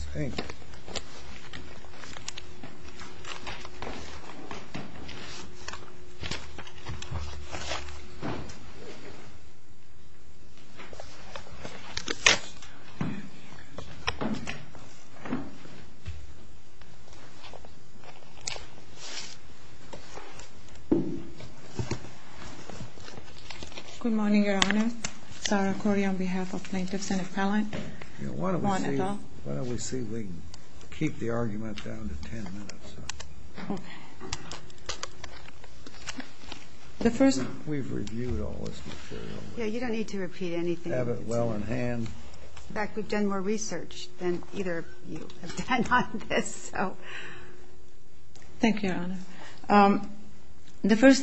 Good morning, Your Honor. Thank you, Your Honor. The first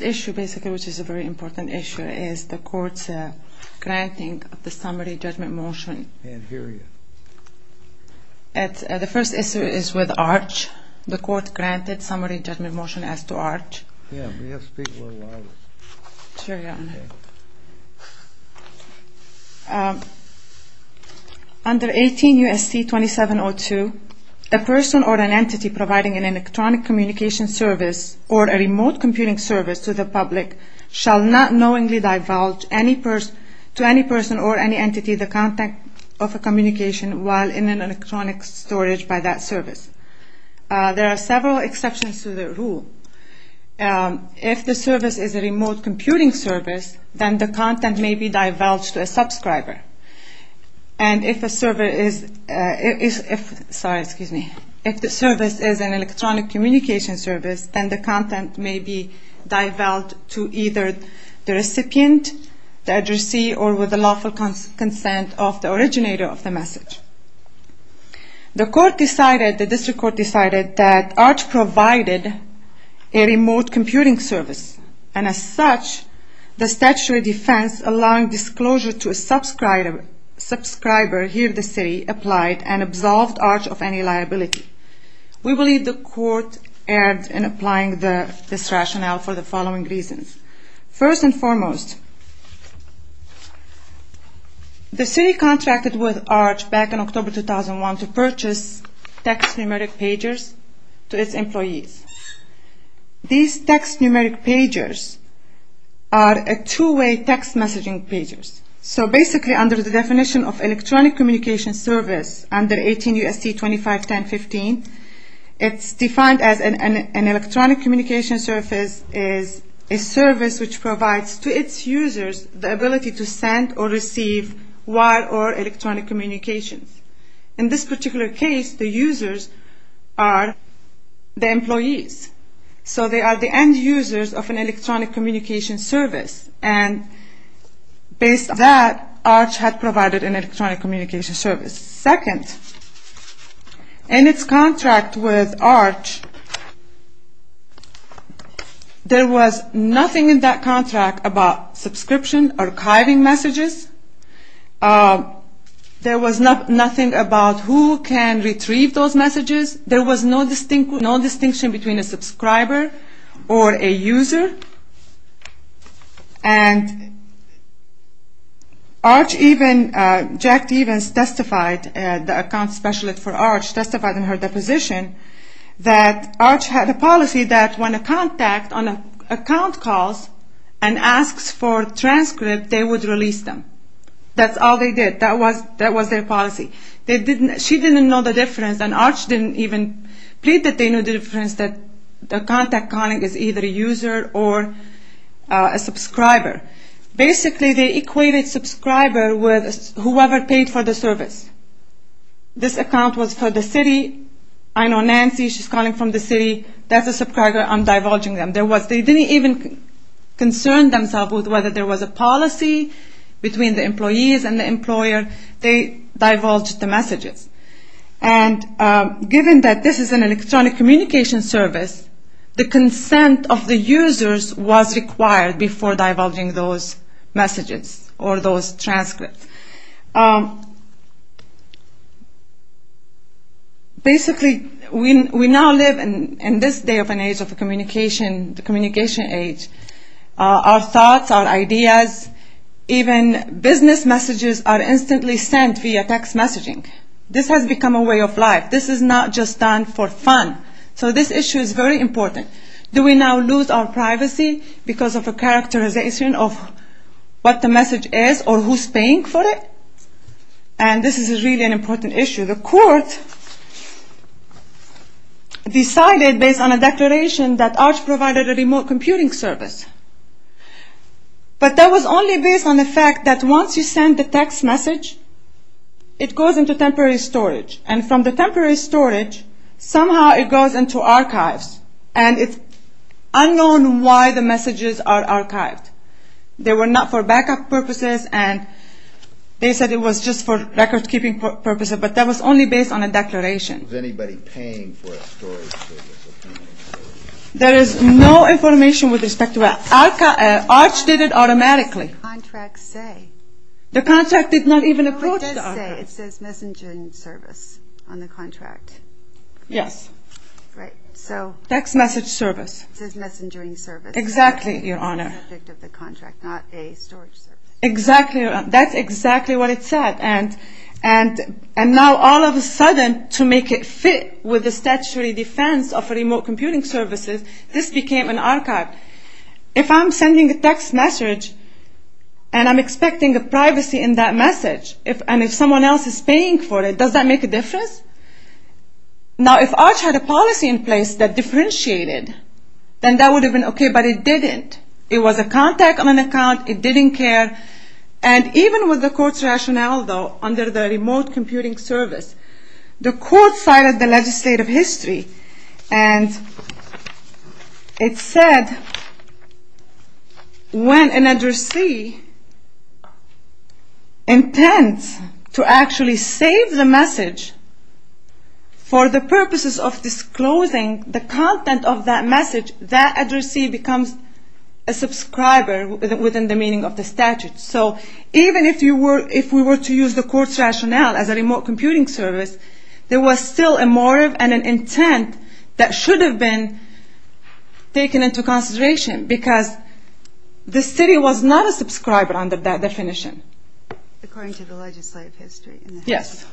issue basically, which is a very important issue, is the court's granting of the summary judgment motion. And here you are. The first issue is with Arch. The court granted summary judgment motion as to Arch. Yeah, but you have to speak a little louder. Sure, Your Honor. Okay. Under 18 U.S.C. 2702, the person or an entity providing an electronic communication service or a remote computing service to the public shall not knowingly divulge to any person or any entity the contact of a communication while in an electronic storage by that service. There are several exceptions to the rule. If the service is a remote computing service, then the content may be divulged to a subscriber. And if the service is an electronic communication service, then the content may be divulged to either the recipient, the addressee, or with the lawful consent of the originator of the message. The court decided, the district court decided, that Arch provided a remote computing service. And as such, the statutory defense allowing disclosure to a subscriber, here the city, applied and absolved Arch of any liability. We believe the court erred in applying this rationale for the following reasons. First and foremost, the city contracted with Arch back in October 2001 to purchase text numeric pagers to its employees. These text numeric pagers are a two-way text messaging pagers. So basically under the definition of electronic communication service under 18 U.S.C. 251015, it's defined as an electronic communication service is a service which provides to its users the ability to send or receive wire or electronic communications. In this particular case, the users are the employees. So they are the end users of an electronic communication service. And based on that, Arch had provided an electronic communication service. Second, in its contract with Arch, there was nothing in that contract about subscription archiving messages. There was nothing about who can retrieve those messages. There was no distinction between a subscriber or a user. And Arch even, Jack Devens testified, the account specialist for Arch testified in her deposition that Arch had a policy that when a contact on an account calls and asks for transcript, they would release them. That's all they did. That was their policy. She didn't know the difference and Arch didn't even plead that they knew the difference that the contact calling is either a user or a subscriber. Basically they equated subscriber with whoever paid for the service. This account was for the city. I know Nancy, she's calling from the city. That's a subscriber, I'm divulging them. They didn't even concern themselves with whether there was a policy between the employees and the employer. They divulged the messages. And given that this is an electronic communication service, the consent of the users was required before divulging those messages or those transcripts. Basically, we now live in this day of an age of communication, the communication age. Our thoughts, our ideas, even business messages are instantly sent via text messaging. This has become a way of life. This is not just done for fun. So this issue is very important. Do we now lose our privacy because of a characterization of what the message is or who's paying for it? And this is really an important issue. The court decided based on a declaration that Arch provided a remote computing service. But that was only based on the fact that once you send the text message, it goes into temporary storage. And from the temporary storage, somehow it goes into archives. And it's unknown why the messages are archived. They were not for backup purposes, and they said it was just for recordkeeping purposes. But that was only based on a declaration. Was anybody paying for a storage service? There is no information with respect to that. Arch did it automatically. What does the contract say? The contract did not even approach the archives. No, it does say. It says messaging service on the contract. Yes. Right. So. Text message service. It says messaging service. Exactly, Your Honor. Subject of the contract, not a storage service. Exactly. That's exactly what it said. And now all of a sudden, to make it fit with the statutory defense of remote computing services, this became an archive. If I'm sending a text message, and I'm expecting a privacy in that message, and if someone else is paying for it, does that make a difference? Now, if Arch had a policy in place that differentiated, then that would have been okay, but it didn't. It was a contact on an account. It didn't care. And even with the court's rationale, though, under the remote computing service, the court cited the legislative history, and it said when an addressee intends to actually save the message for the purposes of disclosing the content of that message, that addressee becomes a subscriber within the meaning of the statute. So even if we were to use the court's rationale as a remote computing service, there was still a motive and an intent that should have been taken into consideration, because the city was not a subscriber under that definition. According to the legislative history. Yes.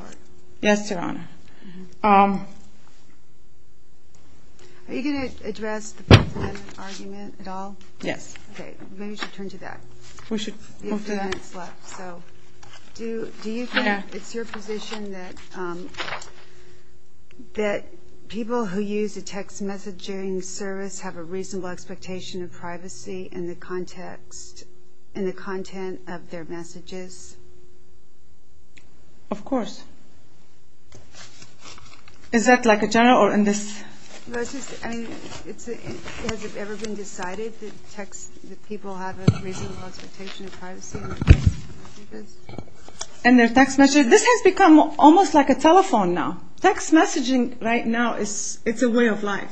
Yes, Your Honor. Are you going to address the proclaimant argument at all? Yes. Okay. Maybe we should turn to that. We should move to that. It's your position that people who use a text messaging service have a reasonable expectation of privacy in the content of their messages? Of course. Is that like a general or in this? Has it ever been decided that people have a reasonable expectation of privacy in their text messages? This has become almost like a telephone now. Text messaging right now, it's a way of life.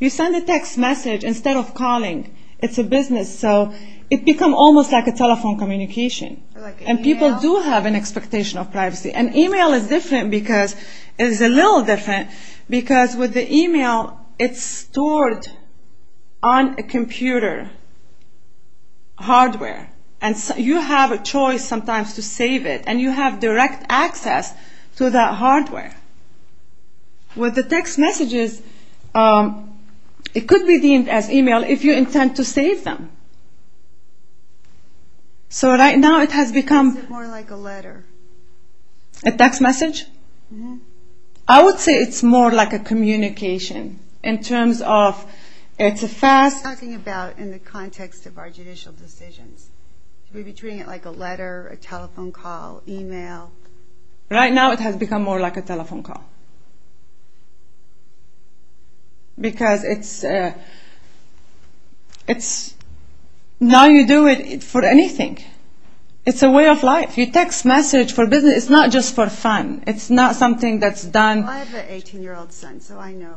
You send a text message instead of calling. It's a business. So it becomes almost like a telephone communication. Or like an email. And people do have an expectation of privacy. And email is different because it's a little different because with the email, it's stored on a computer hardware. And you have a choice sometimes to save it. And you have direct access to that hardware. With the text messages, it could be deemed as email if you intend to save them. So right now it has become more like a letter. A text message? I would say it's more like a communication in terms of it's a fast... Talking about in the context of our judicial decisions. Maybe treating it like a letter, a telephone call, email. Right now it has become more like a telephone call. Because it's... Now you do it for anything. It's a way of life. You text message for business. It's not just for fun. It's not something that's done... I have an 18-year-old son, so I know.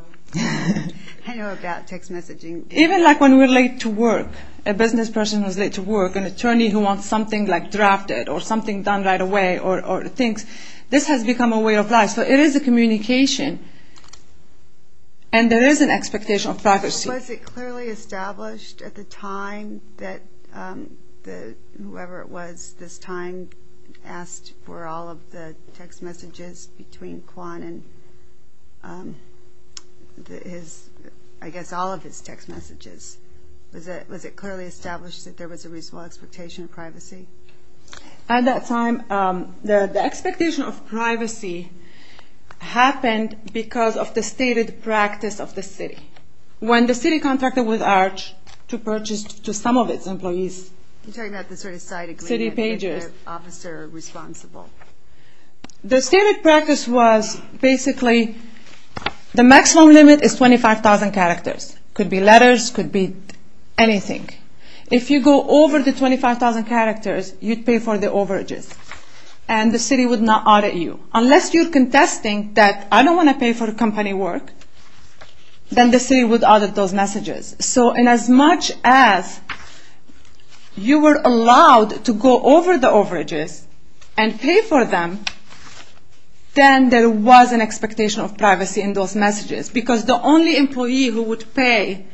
I know about text messaging. Even like when we're late to work. A business person is late to work. An attorney who wants something like drafted or something done right away or things. This has become a way of life. So it is a communication. And there is an expectation of privacy. Was it clearly established at the time that whoever it was this time asked for all of the text messages between Quan and his... I guess all of his text messages. Was it clearly established that there was a reasonable expectation of privacy? At that time, the expectation of privacy happened because of the stated practice of the city. When the city contracted with Arch to purchase to some of its employees... You're talking about the sort of side agreement with their officer responsible. The stated practice was basically the maximum limit is 25,000 characters. Could be letters. Could be anything. If you go over the 25,000 characters, you'd pay for the overages. And the city would not audit you. Unless you're contesting that I don't want to pay for company work, then the city would audit those messages. So in as much as you were allowed to go over the overages and pay for them, then there was an expectation of privacy in those messages. Because the only employee who would pay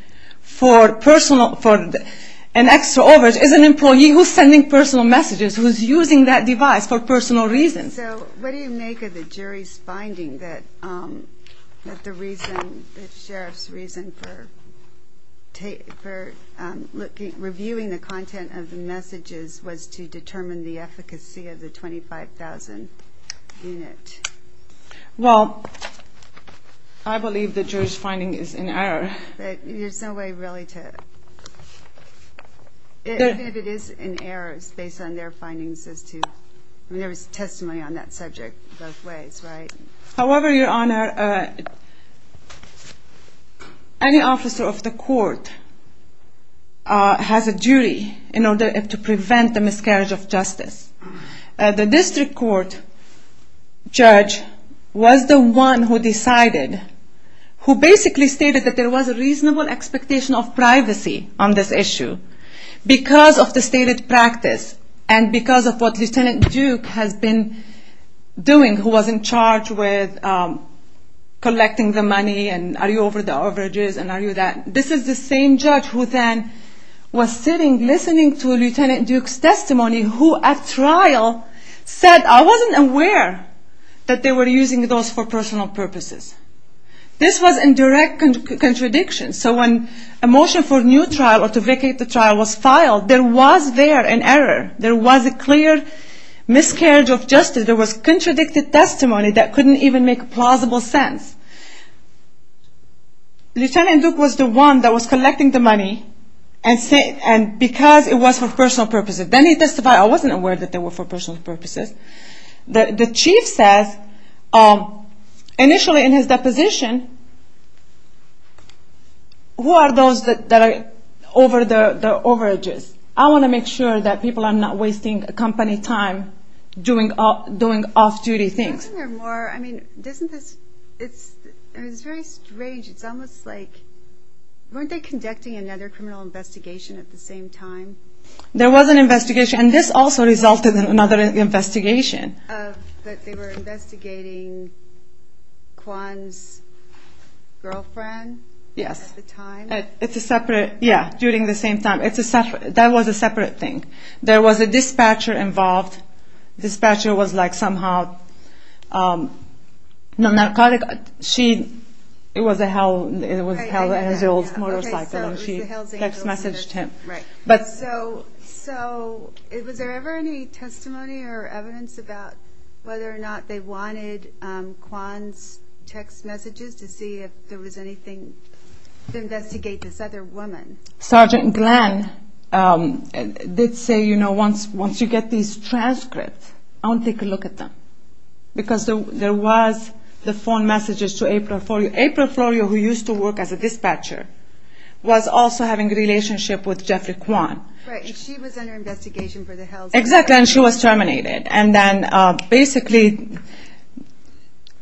for an extra overage is an employee who's sending personal messages, who's using that device for personal reasons. So what do you make of the jury's finding that the reason, the sheriff's reason for reviewing the content of the messages was to determine the efficacy of the 25,000 unit? Well, I believe the jury's finding is in error. There's no way really to... If it is in error, it's based on their findings as to... There was testimony on that subject both ways, right? However, Your Honor, any officer of the court has a duty in order to prevent the miscarriage of justice. The district court judge was the one who decided, who basically stated that there was a reasonable expectation of privacy on this issue because of the stated practice and because of what Lieutenant Duke has been doing, who was in charge with collecting the money and are you over the overages and are you that. This is the same judge who then was sitting listening to Lieutenant Duke's testimony who at trial said, I wasn't aware that they were using those for personal purposes. This was in direct contradiction. So when a motion for new trial or to vacate the trial was filed, there was there an error. There was a clear miscarriage of justice. There was contradicted testimony that couldn't even make a plausible sense. Lieutenant Duke was the one that was collecting the money and because it was for personal purposes. Then he testified, I wasn't aware that they were for personal purposes. The chief says, initially in his deposition, who are those that are over the overages? I want to make sure that people are not wasting company time doing off-duty things. Isn't there more, I mean, isn't this, it's very strange. It's almost like, weren't they conducting another criminal investigation at the same time? There was an investigation and this also resulted in another investigation. They were investigating Kwan's girlfriend? Yes. At the time? It's a separate, yeah, during the same time. It's a separate, that was a separate thing. There was a dispatcher involved. Dispatcher was like somehow, she, it was a Hells Angels motorcycle. She text messaged him. So was there ever any testimony or evidence about whether or not they wanted Kwan's text messages to see if there was anything to investigate this other woman? Sergeant Glenn did say, you know, once you get these transcripts, I want to take a look at them. Because there was the phone messages to April Florio. who used to work as a dispatcher, was also having a relationship with Jeffrey Kwan. Right, and she was under investigation for the Hells Angels. Exactly, and she was terminated. And then basically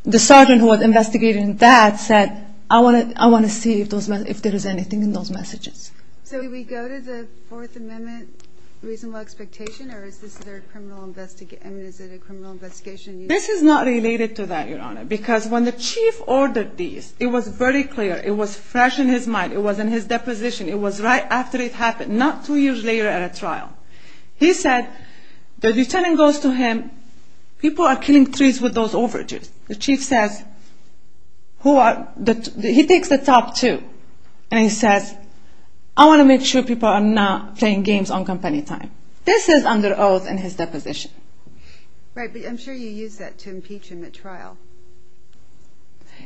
the sergeant who was investigating that said, I want to see if there was anything in those messages. So did we go to the Fourth Amendment reasonable expectation or is this a criminal investigation? This is not related to that, Your Honor. Because when the chief ordered these, it was very clear. It was fresh in his mind. It was in his deposition. It was right after it happened, not two years later at a trial. He said, the lieutenant goes to him, people are killing trees with those overages. The chief says, he takes the top two. And he says, I want to make sure people are not playing games on company time. This is under oath in his deposition. Right, but I'm sure you used that to impeach him at trial.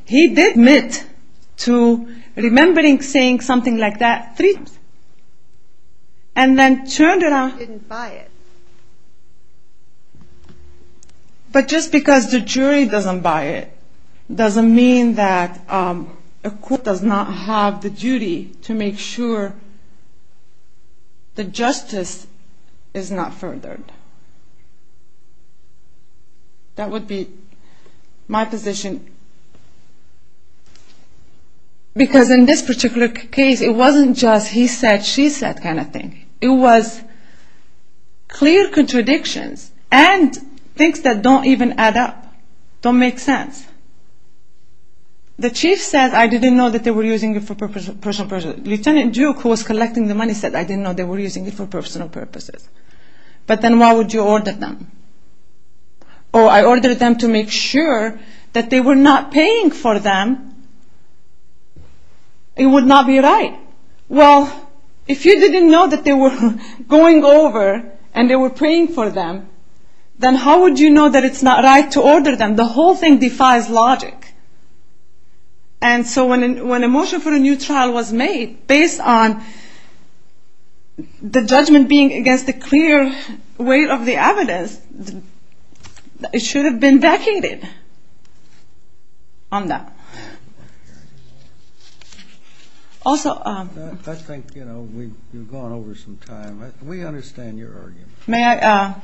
He did admit to remembering saying something like that three times. And then turned around and didn't buy it. But just because the jury doesn't buy it, doesn't mean that a court does not have the duty to make sure the justice is not furthered. That would be my position. Because in this particular case, it wasn't just he said, she said kind of thing. It was clear contradictions and things that don't even add up, don't make sense. The chief said, I didn't know that they were using it for personal purposes. Lieutenant Duke, who was collecting the money, said, I didn't know they were using it for personal purposes. But then why would you order them? Oh, I ordered them to make sure that they were not paying for them. It would not be right. Well, if you didn't know that they were going over and they were paying for them, then how would you know that it's not right to order them? The whole thing defies logic. And so when a motion for a new trial was made, based on the judgment being against the clear weight of the evidence, it should have been vacated on that. I think we've gone over some time. We understand your argument. May I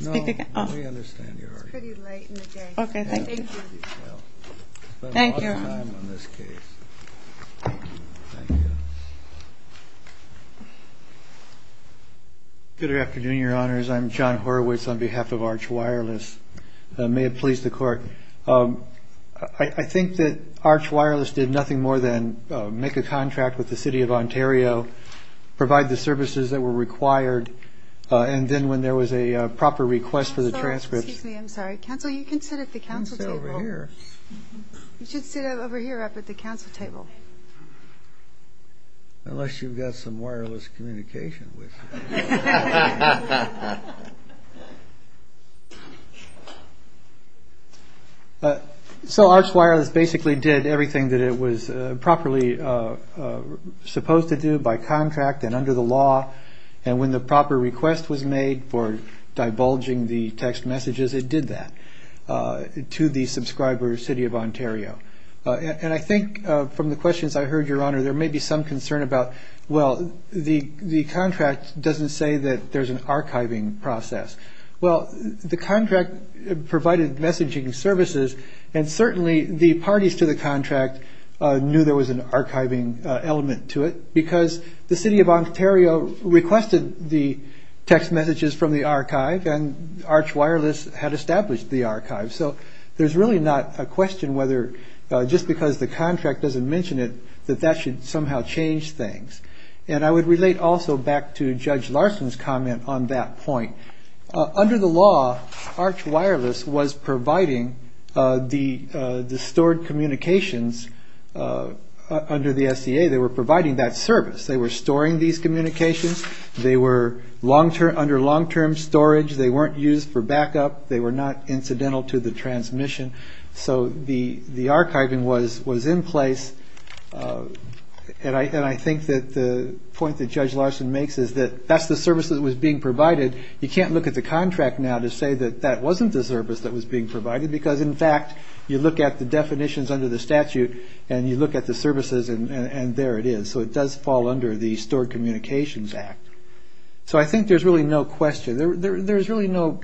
speak again? No, we understand your argument. It's pretty late in the day. Okay, thank you. Thank you. We've spent a lot of time on this case. Thank you. Good afternoon, Your Honors. I'm John Horowitz on behalf of Arch Wireless. May it please the Court. I think that Arch Wireless did nothing more than make a contract with the City of Ontario, provide the services that were required, and then when there was a proper request for the transcripts. Excuse me, I'm sorry. Counsel, you can sit at the counsel table. I can sit over here. You should sit over here up at the counsel table. Unless you've got some wireless communication with you. So Arch Wireless basically did everything that it was properly supposed to do by contract and under the law, and when the proper request was made for divulging the text messages, it did that to the subscriber City of Ontario. And I think from the questions I heard, Your Honor, there may be some concern about, well, the contract doesn't say that there's an archiving process. Well, the contract provided messaging services, and certainly the parties to the contract knew there was an archiving element to it because the City of Ontario requested the text messages from the archive, and Arch Wireless had established the archive. So there's really not a question whether just because the contract doesn't mention it, that that should somehow change things. And I would relate also back to Judge Larson's comment on that point. Under the law, Arch Wireless was providing the stored communications under the SCA. They were providing that service. They were storing these communications. They were under long-term storage. They weren't used for backup. They were not incidental to the transmission. So the archiving was in place, and I think that the point that Judge Larson makes is that that's the service that was being provided. You can't look at the contract now to say that that wasn't the service that was being provided because, in fact, you look at the definitions under the statute, and you look at the services, and there it is. So it does fall under the Stored Communications Act. So I think there's really no question. There's really no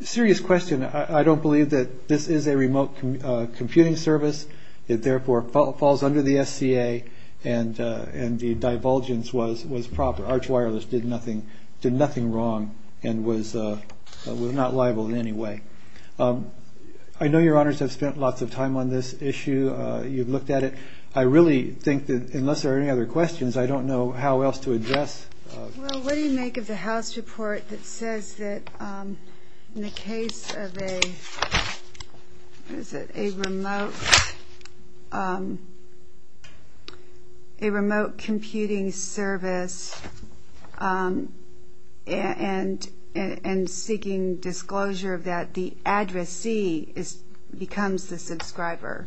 serious question. I don't believe that this is a remote computing service. It, therefore, falls under the SCA, and the divulgence was proper. Arch Wireless did nothing wrong and was not liable in any way. I know Your Honors have spent lots of time on this issue. You've looked at it. I really think that, unless there are any other questions, I don't know how else to address. Well, what do you make of the House report that says that in the case of a remote computing service and seeking disclosure of that, the addressee becomes the subscriber?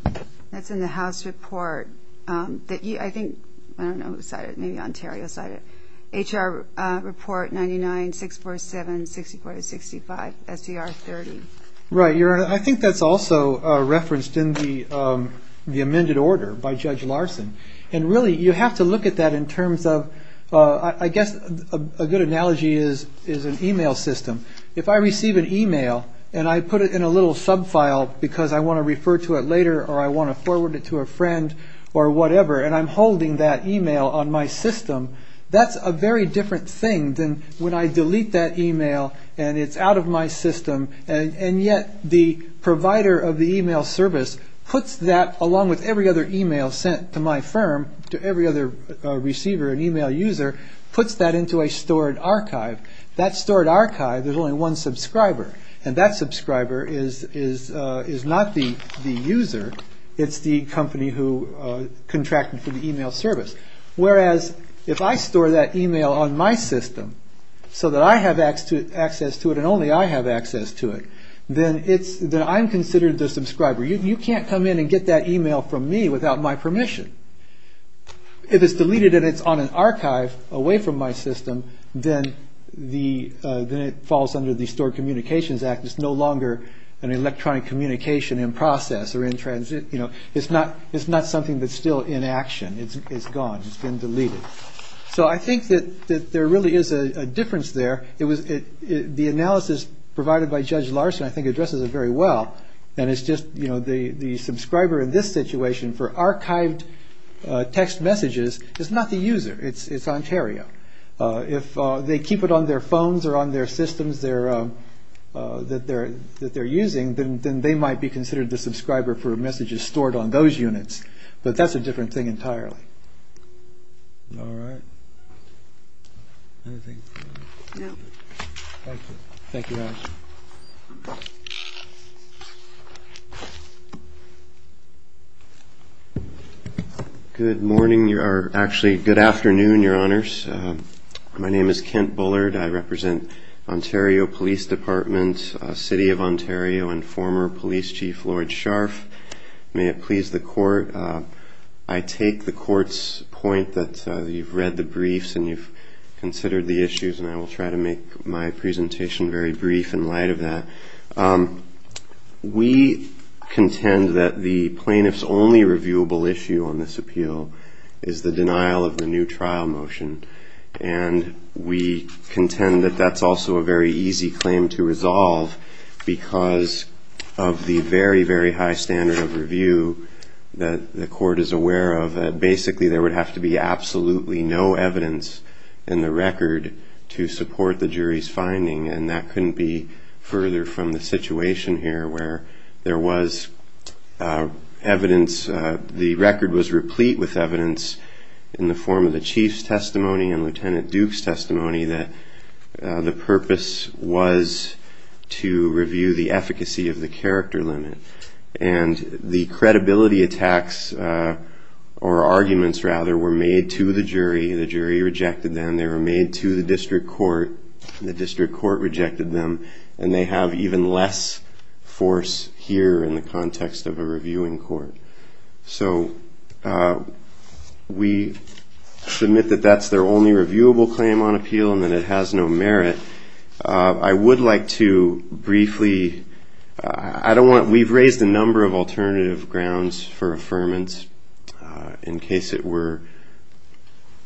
That's in the House report. I don't know who cited it. Maybe Ontario cited it. H.R. Report 99-647-6465, S.E.R. 30. Right, Your Honor. I think that's also referenced in the amended order by Judge Larson. And, really, you have to look at that in terms of, I guess a good analogy is an e-mail system. If I receive an e-mail and I put it in a little sub-file because I want to refer to it later or I want to forward it to a friend or whatever, and I'm holding that e-mail on my system, that's a very different thing than when I delete that e-mail and it's out of my system, and yet the provider of the e-mail service puts that, along with every other e-mail sent to my firm, to every other receiver, an e-mail user, puts that into a stored archive. That stored archive, there's only one subscriber, and that subscriber is not the user. It's the company who contracted for the e-mail service. Whereas if I store that e-mail on my system so that I have access to it and only I have access to it, then I'm considered the subscriber. You can't come in and get that e-mail from me without my permission. If it's deleted and it's on an archive away from my system, then it falls under the Stored Communications Act. It's no longer an electronic communication in process or in transit. It's not something that's still in action. It's gone. It's been deleted. So I think that there really is a difference there. The analysis provided by Judge Larson, I think, addresses it very well. The subscriber in this situation for archived text messages is not the user. It's Ontario. If they keep it on their phones or on their systems that they're using, then they might be considered the subscriber for messages stored on those units. But that's a different thing entirely. Good morning. Actually, good afternoon, Your Honours. My name is Kent Bullard. I represent Ontario Police Department, City of Ontario, and former Police Chief Lloyd Scharf. May it please the Court. I take the Court's point that you've read the briefs and you've considered the issues, and I will try to make my presentation very brief in light of that. We contend that the plaintiff's only reviewable issue on this appeal is the denial of the new trial motion, and we contend that that's also a very easy claim to resolve because of the very, very high standard of review that the Court is aware of. Basically, there would have to be absolutely no evidence in the record to support the jury's finding, and that couldn't be further from the situation here where there was evidence. The record was replete with evidence in the form of the Chief's testimony and Lieutenant Duke's testimony that the purpose was to review the efficacy of the character limit. And the credibility attacks, or arguments, rather, were made to the jury. The jury rejected them. They were made to the district court. The district court rejected them, and they have even less force here in the context of a reviewing court. So we submit that that's their only reviewable claim on appeal and that it has no merit. I would like to briefly, I don't want, we've raised a number of alternative grounds for affirmance in case it were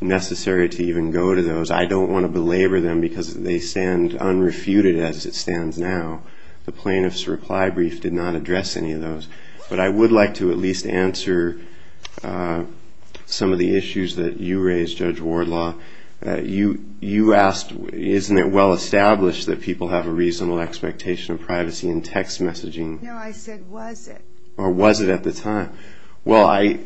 necessary to even go to those. I don't want to belabor them because they stand unrefuted as it stands now. The plaintiff's reply brief did not address any of those. But I would like to at least answer some of the issues that you raised, Judge Wardlaw. You asked, isn't it well established that people have a reasonable expectation of privacy in text messaging? No, I said, was it? Or was it at the time? Well, I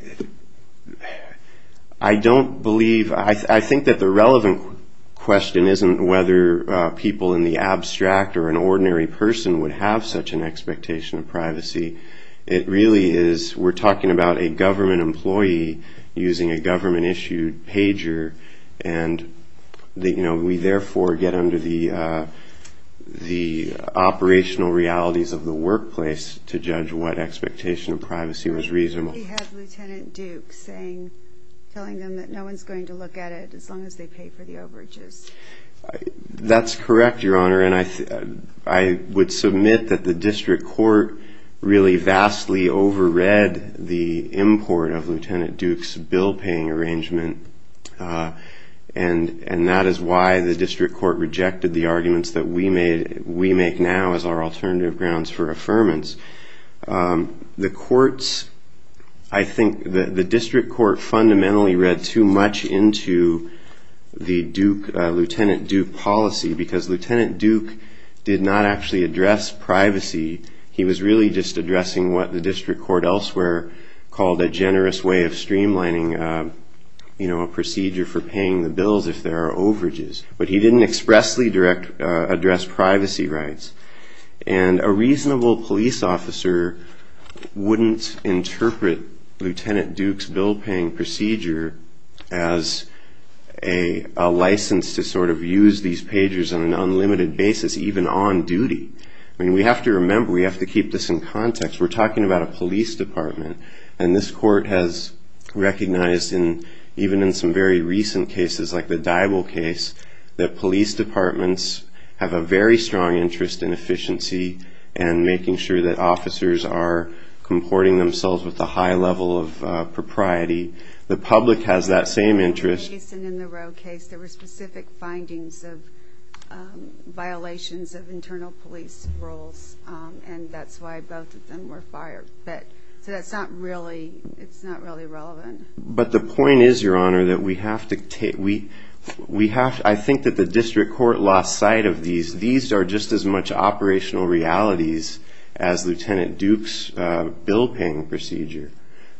don't believe, I think that the relevant question isn't whether people in the abstract or an ordinary person would have such an expectation of privacy. It really is, we're talking about a government employee using a government-issued pager, and we therefore get under the operational realities of the workplace to judge what expectation of privacy was reasonable. We have Lieutenant Duke saying, telling them that no one's going to look at it as long as they pay for the overages. That's correct, Your Honor, and I would submit that the district court really vastly overread the import of Lieutenant Duke's bill-paying arrangement, and that is why the district court rejected the arguments that we make now as our alternative grounds for affirmance. The courts, I think the district court fundamentally read too much into the Lieutenant Duke policy because Lieutenant Duke did not actually address privacy. He was really just addressing what the district court elsewhere called a generous way of streamlining a procedure for paying the bills if there are overages, but he didn't expressly address privacy rights. And a reasonable police officer wouldn't interpret Lieutenant Duke's bill-paying procedure as a license to sort of use these pagers on an unlimited basis, even on duty. I mean, we have to remember, we have to keep this in context. We're talking about a police department, and this court has recognized, even in some very recent cases like the Dybul case, that police departments have a very strong interest in efficiency and making sure that officers are comporting themselves with a high level of propriety. The public has that same interest. In the Dyson and the Rowe case, there were specific findings of violations of internal police rules, and that's why both of them were fired. So it's not really relevant. But the point is, Your Honor, that we have to take— I think that the district court lost sight of these. These are just as much operational realities as Lieutenant Duke's bill-paying procedure.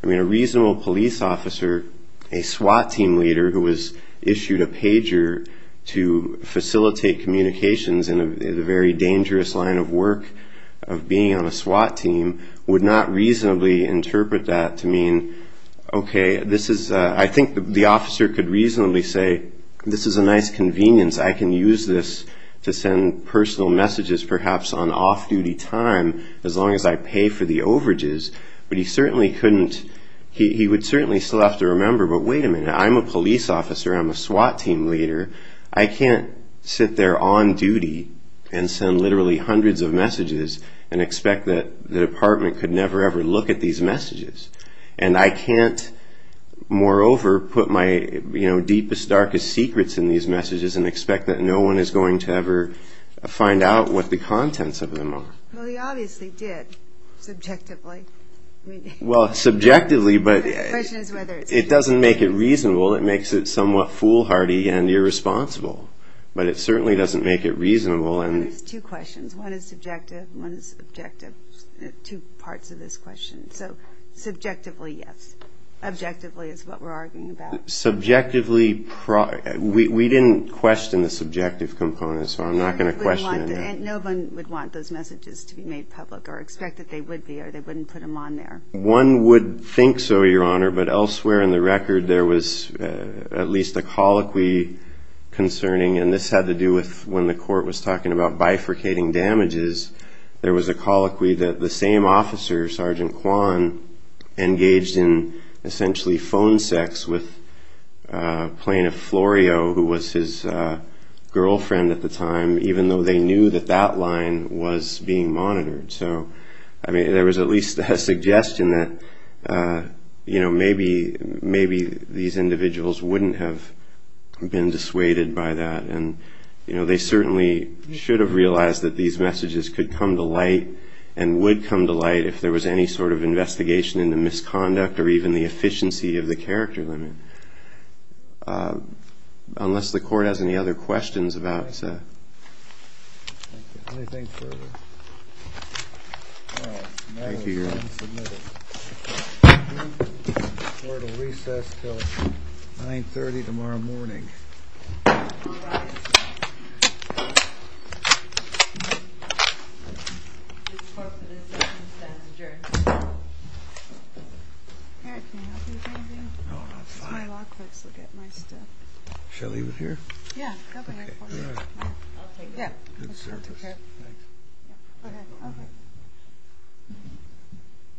I mean, a reasonable police officer, a SWAT team leader who has issued a pager to facilitate communications in a very dangerous line of work of being on a SWAT team, would not reasonably interpret that to mean, okay, this is—I think the officer could reasonably say, this is a nice convenience, I can use this to send personal messages perhaps on off-duty time as long as I pay for the overages. But he certainly couldn't—he would certainly still have to remember, but wait a minute, I'm a police officer, I'm a SWAT team leader, and expect that the department could never, ever look at these messages. And I can't, moreover, put my deepest, darkest secrets in these messages and expect that no one is going to ever find out what the contents of them are. Well, he obviously did, subjectively. Well, subjectively, but it doesn't make it reasonable. It makes it somewhat foolhardy and irresponsible. But it certainly doesn't make it reasonable. There's two questions. One is subjective and one is objective, two parts of this question. So subjectively, yes. Objectively is what we're arguing about. Subjectively, we didn't question the subjective component, so I'm not going to question it. No one would want those messages to be made public or expect that they would be or they wouldn't put them on there. One would think so, Your Honor, but elsewhere in the record there was at least a colloquy concerning, and this had to do with when the court was talking about bifurcating damages, there was a colloquy that the same officer, Sergeant Kwan, engaged in essentially phone sex with Plaintiff Florio, who was his girlfriend at the time, even though they knew that that line was being monitored. So, I mean, there was at least a suggestion that, you know, maybe these individuals wouldn't have been dissuaded by that. And, you know, they certainly should have realized that these messages could come to light and would come to light if there was any sort of investigation into misconduct or even the efficiency of the character limit. Unless the court has any other questions about that. Thank you. Anything further? Thank you, Your Honor. Court will recess until 9.30 tomorrow morning. All rise. Eric, can I help you with anything? No, I'm fine. My law clerks will get my stuff. Shall I leave it here? Yeah, go ahead. I'll take it. Good service. Thanks. Okay.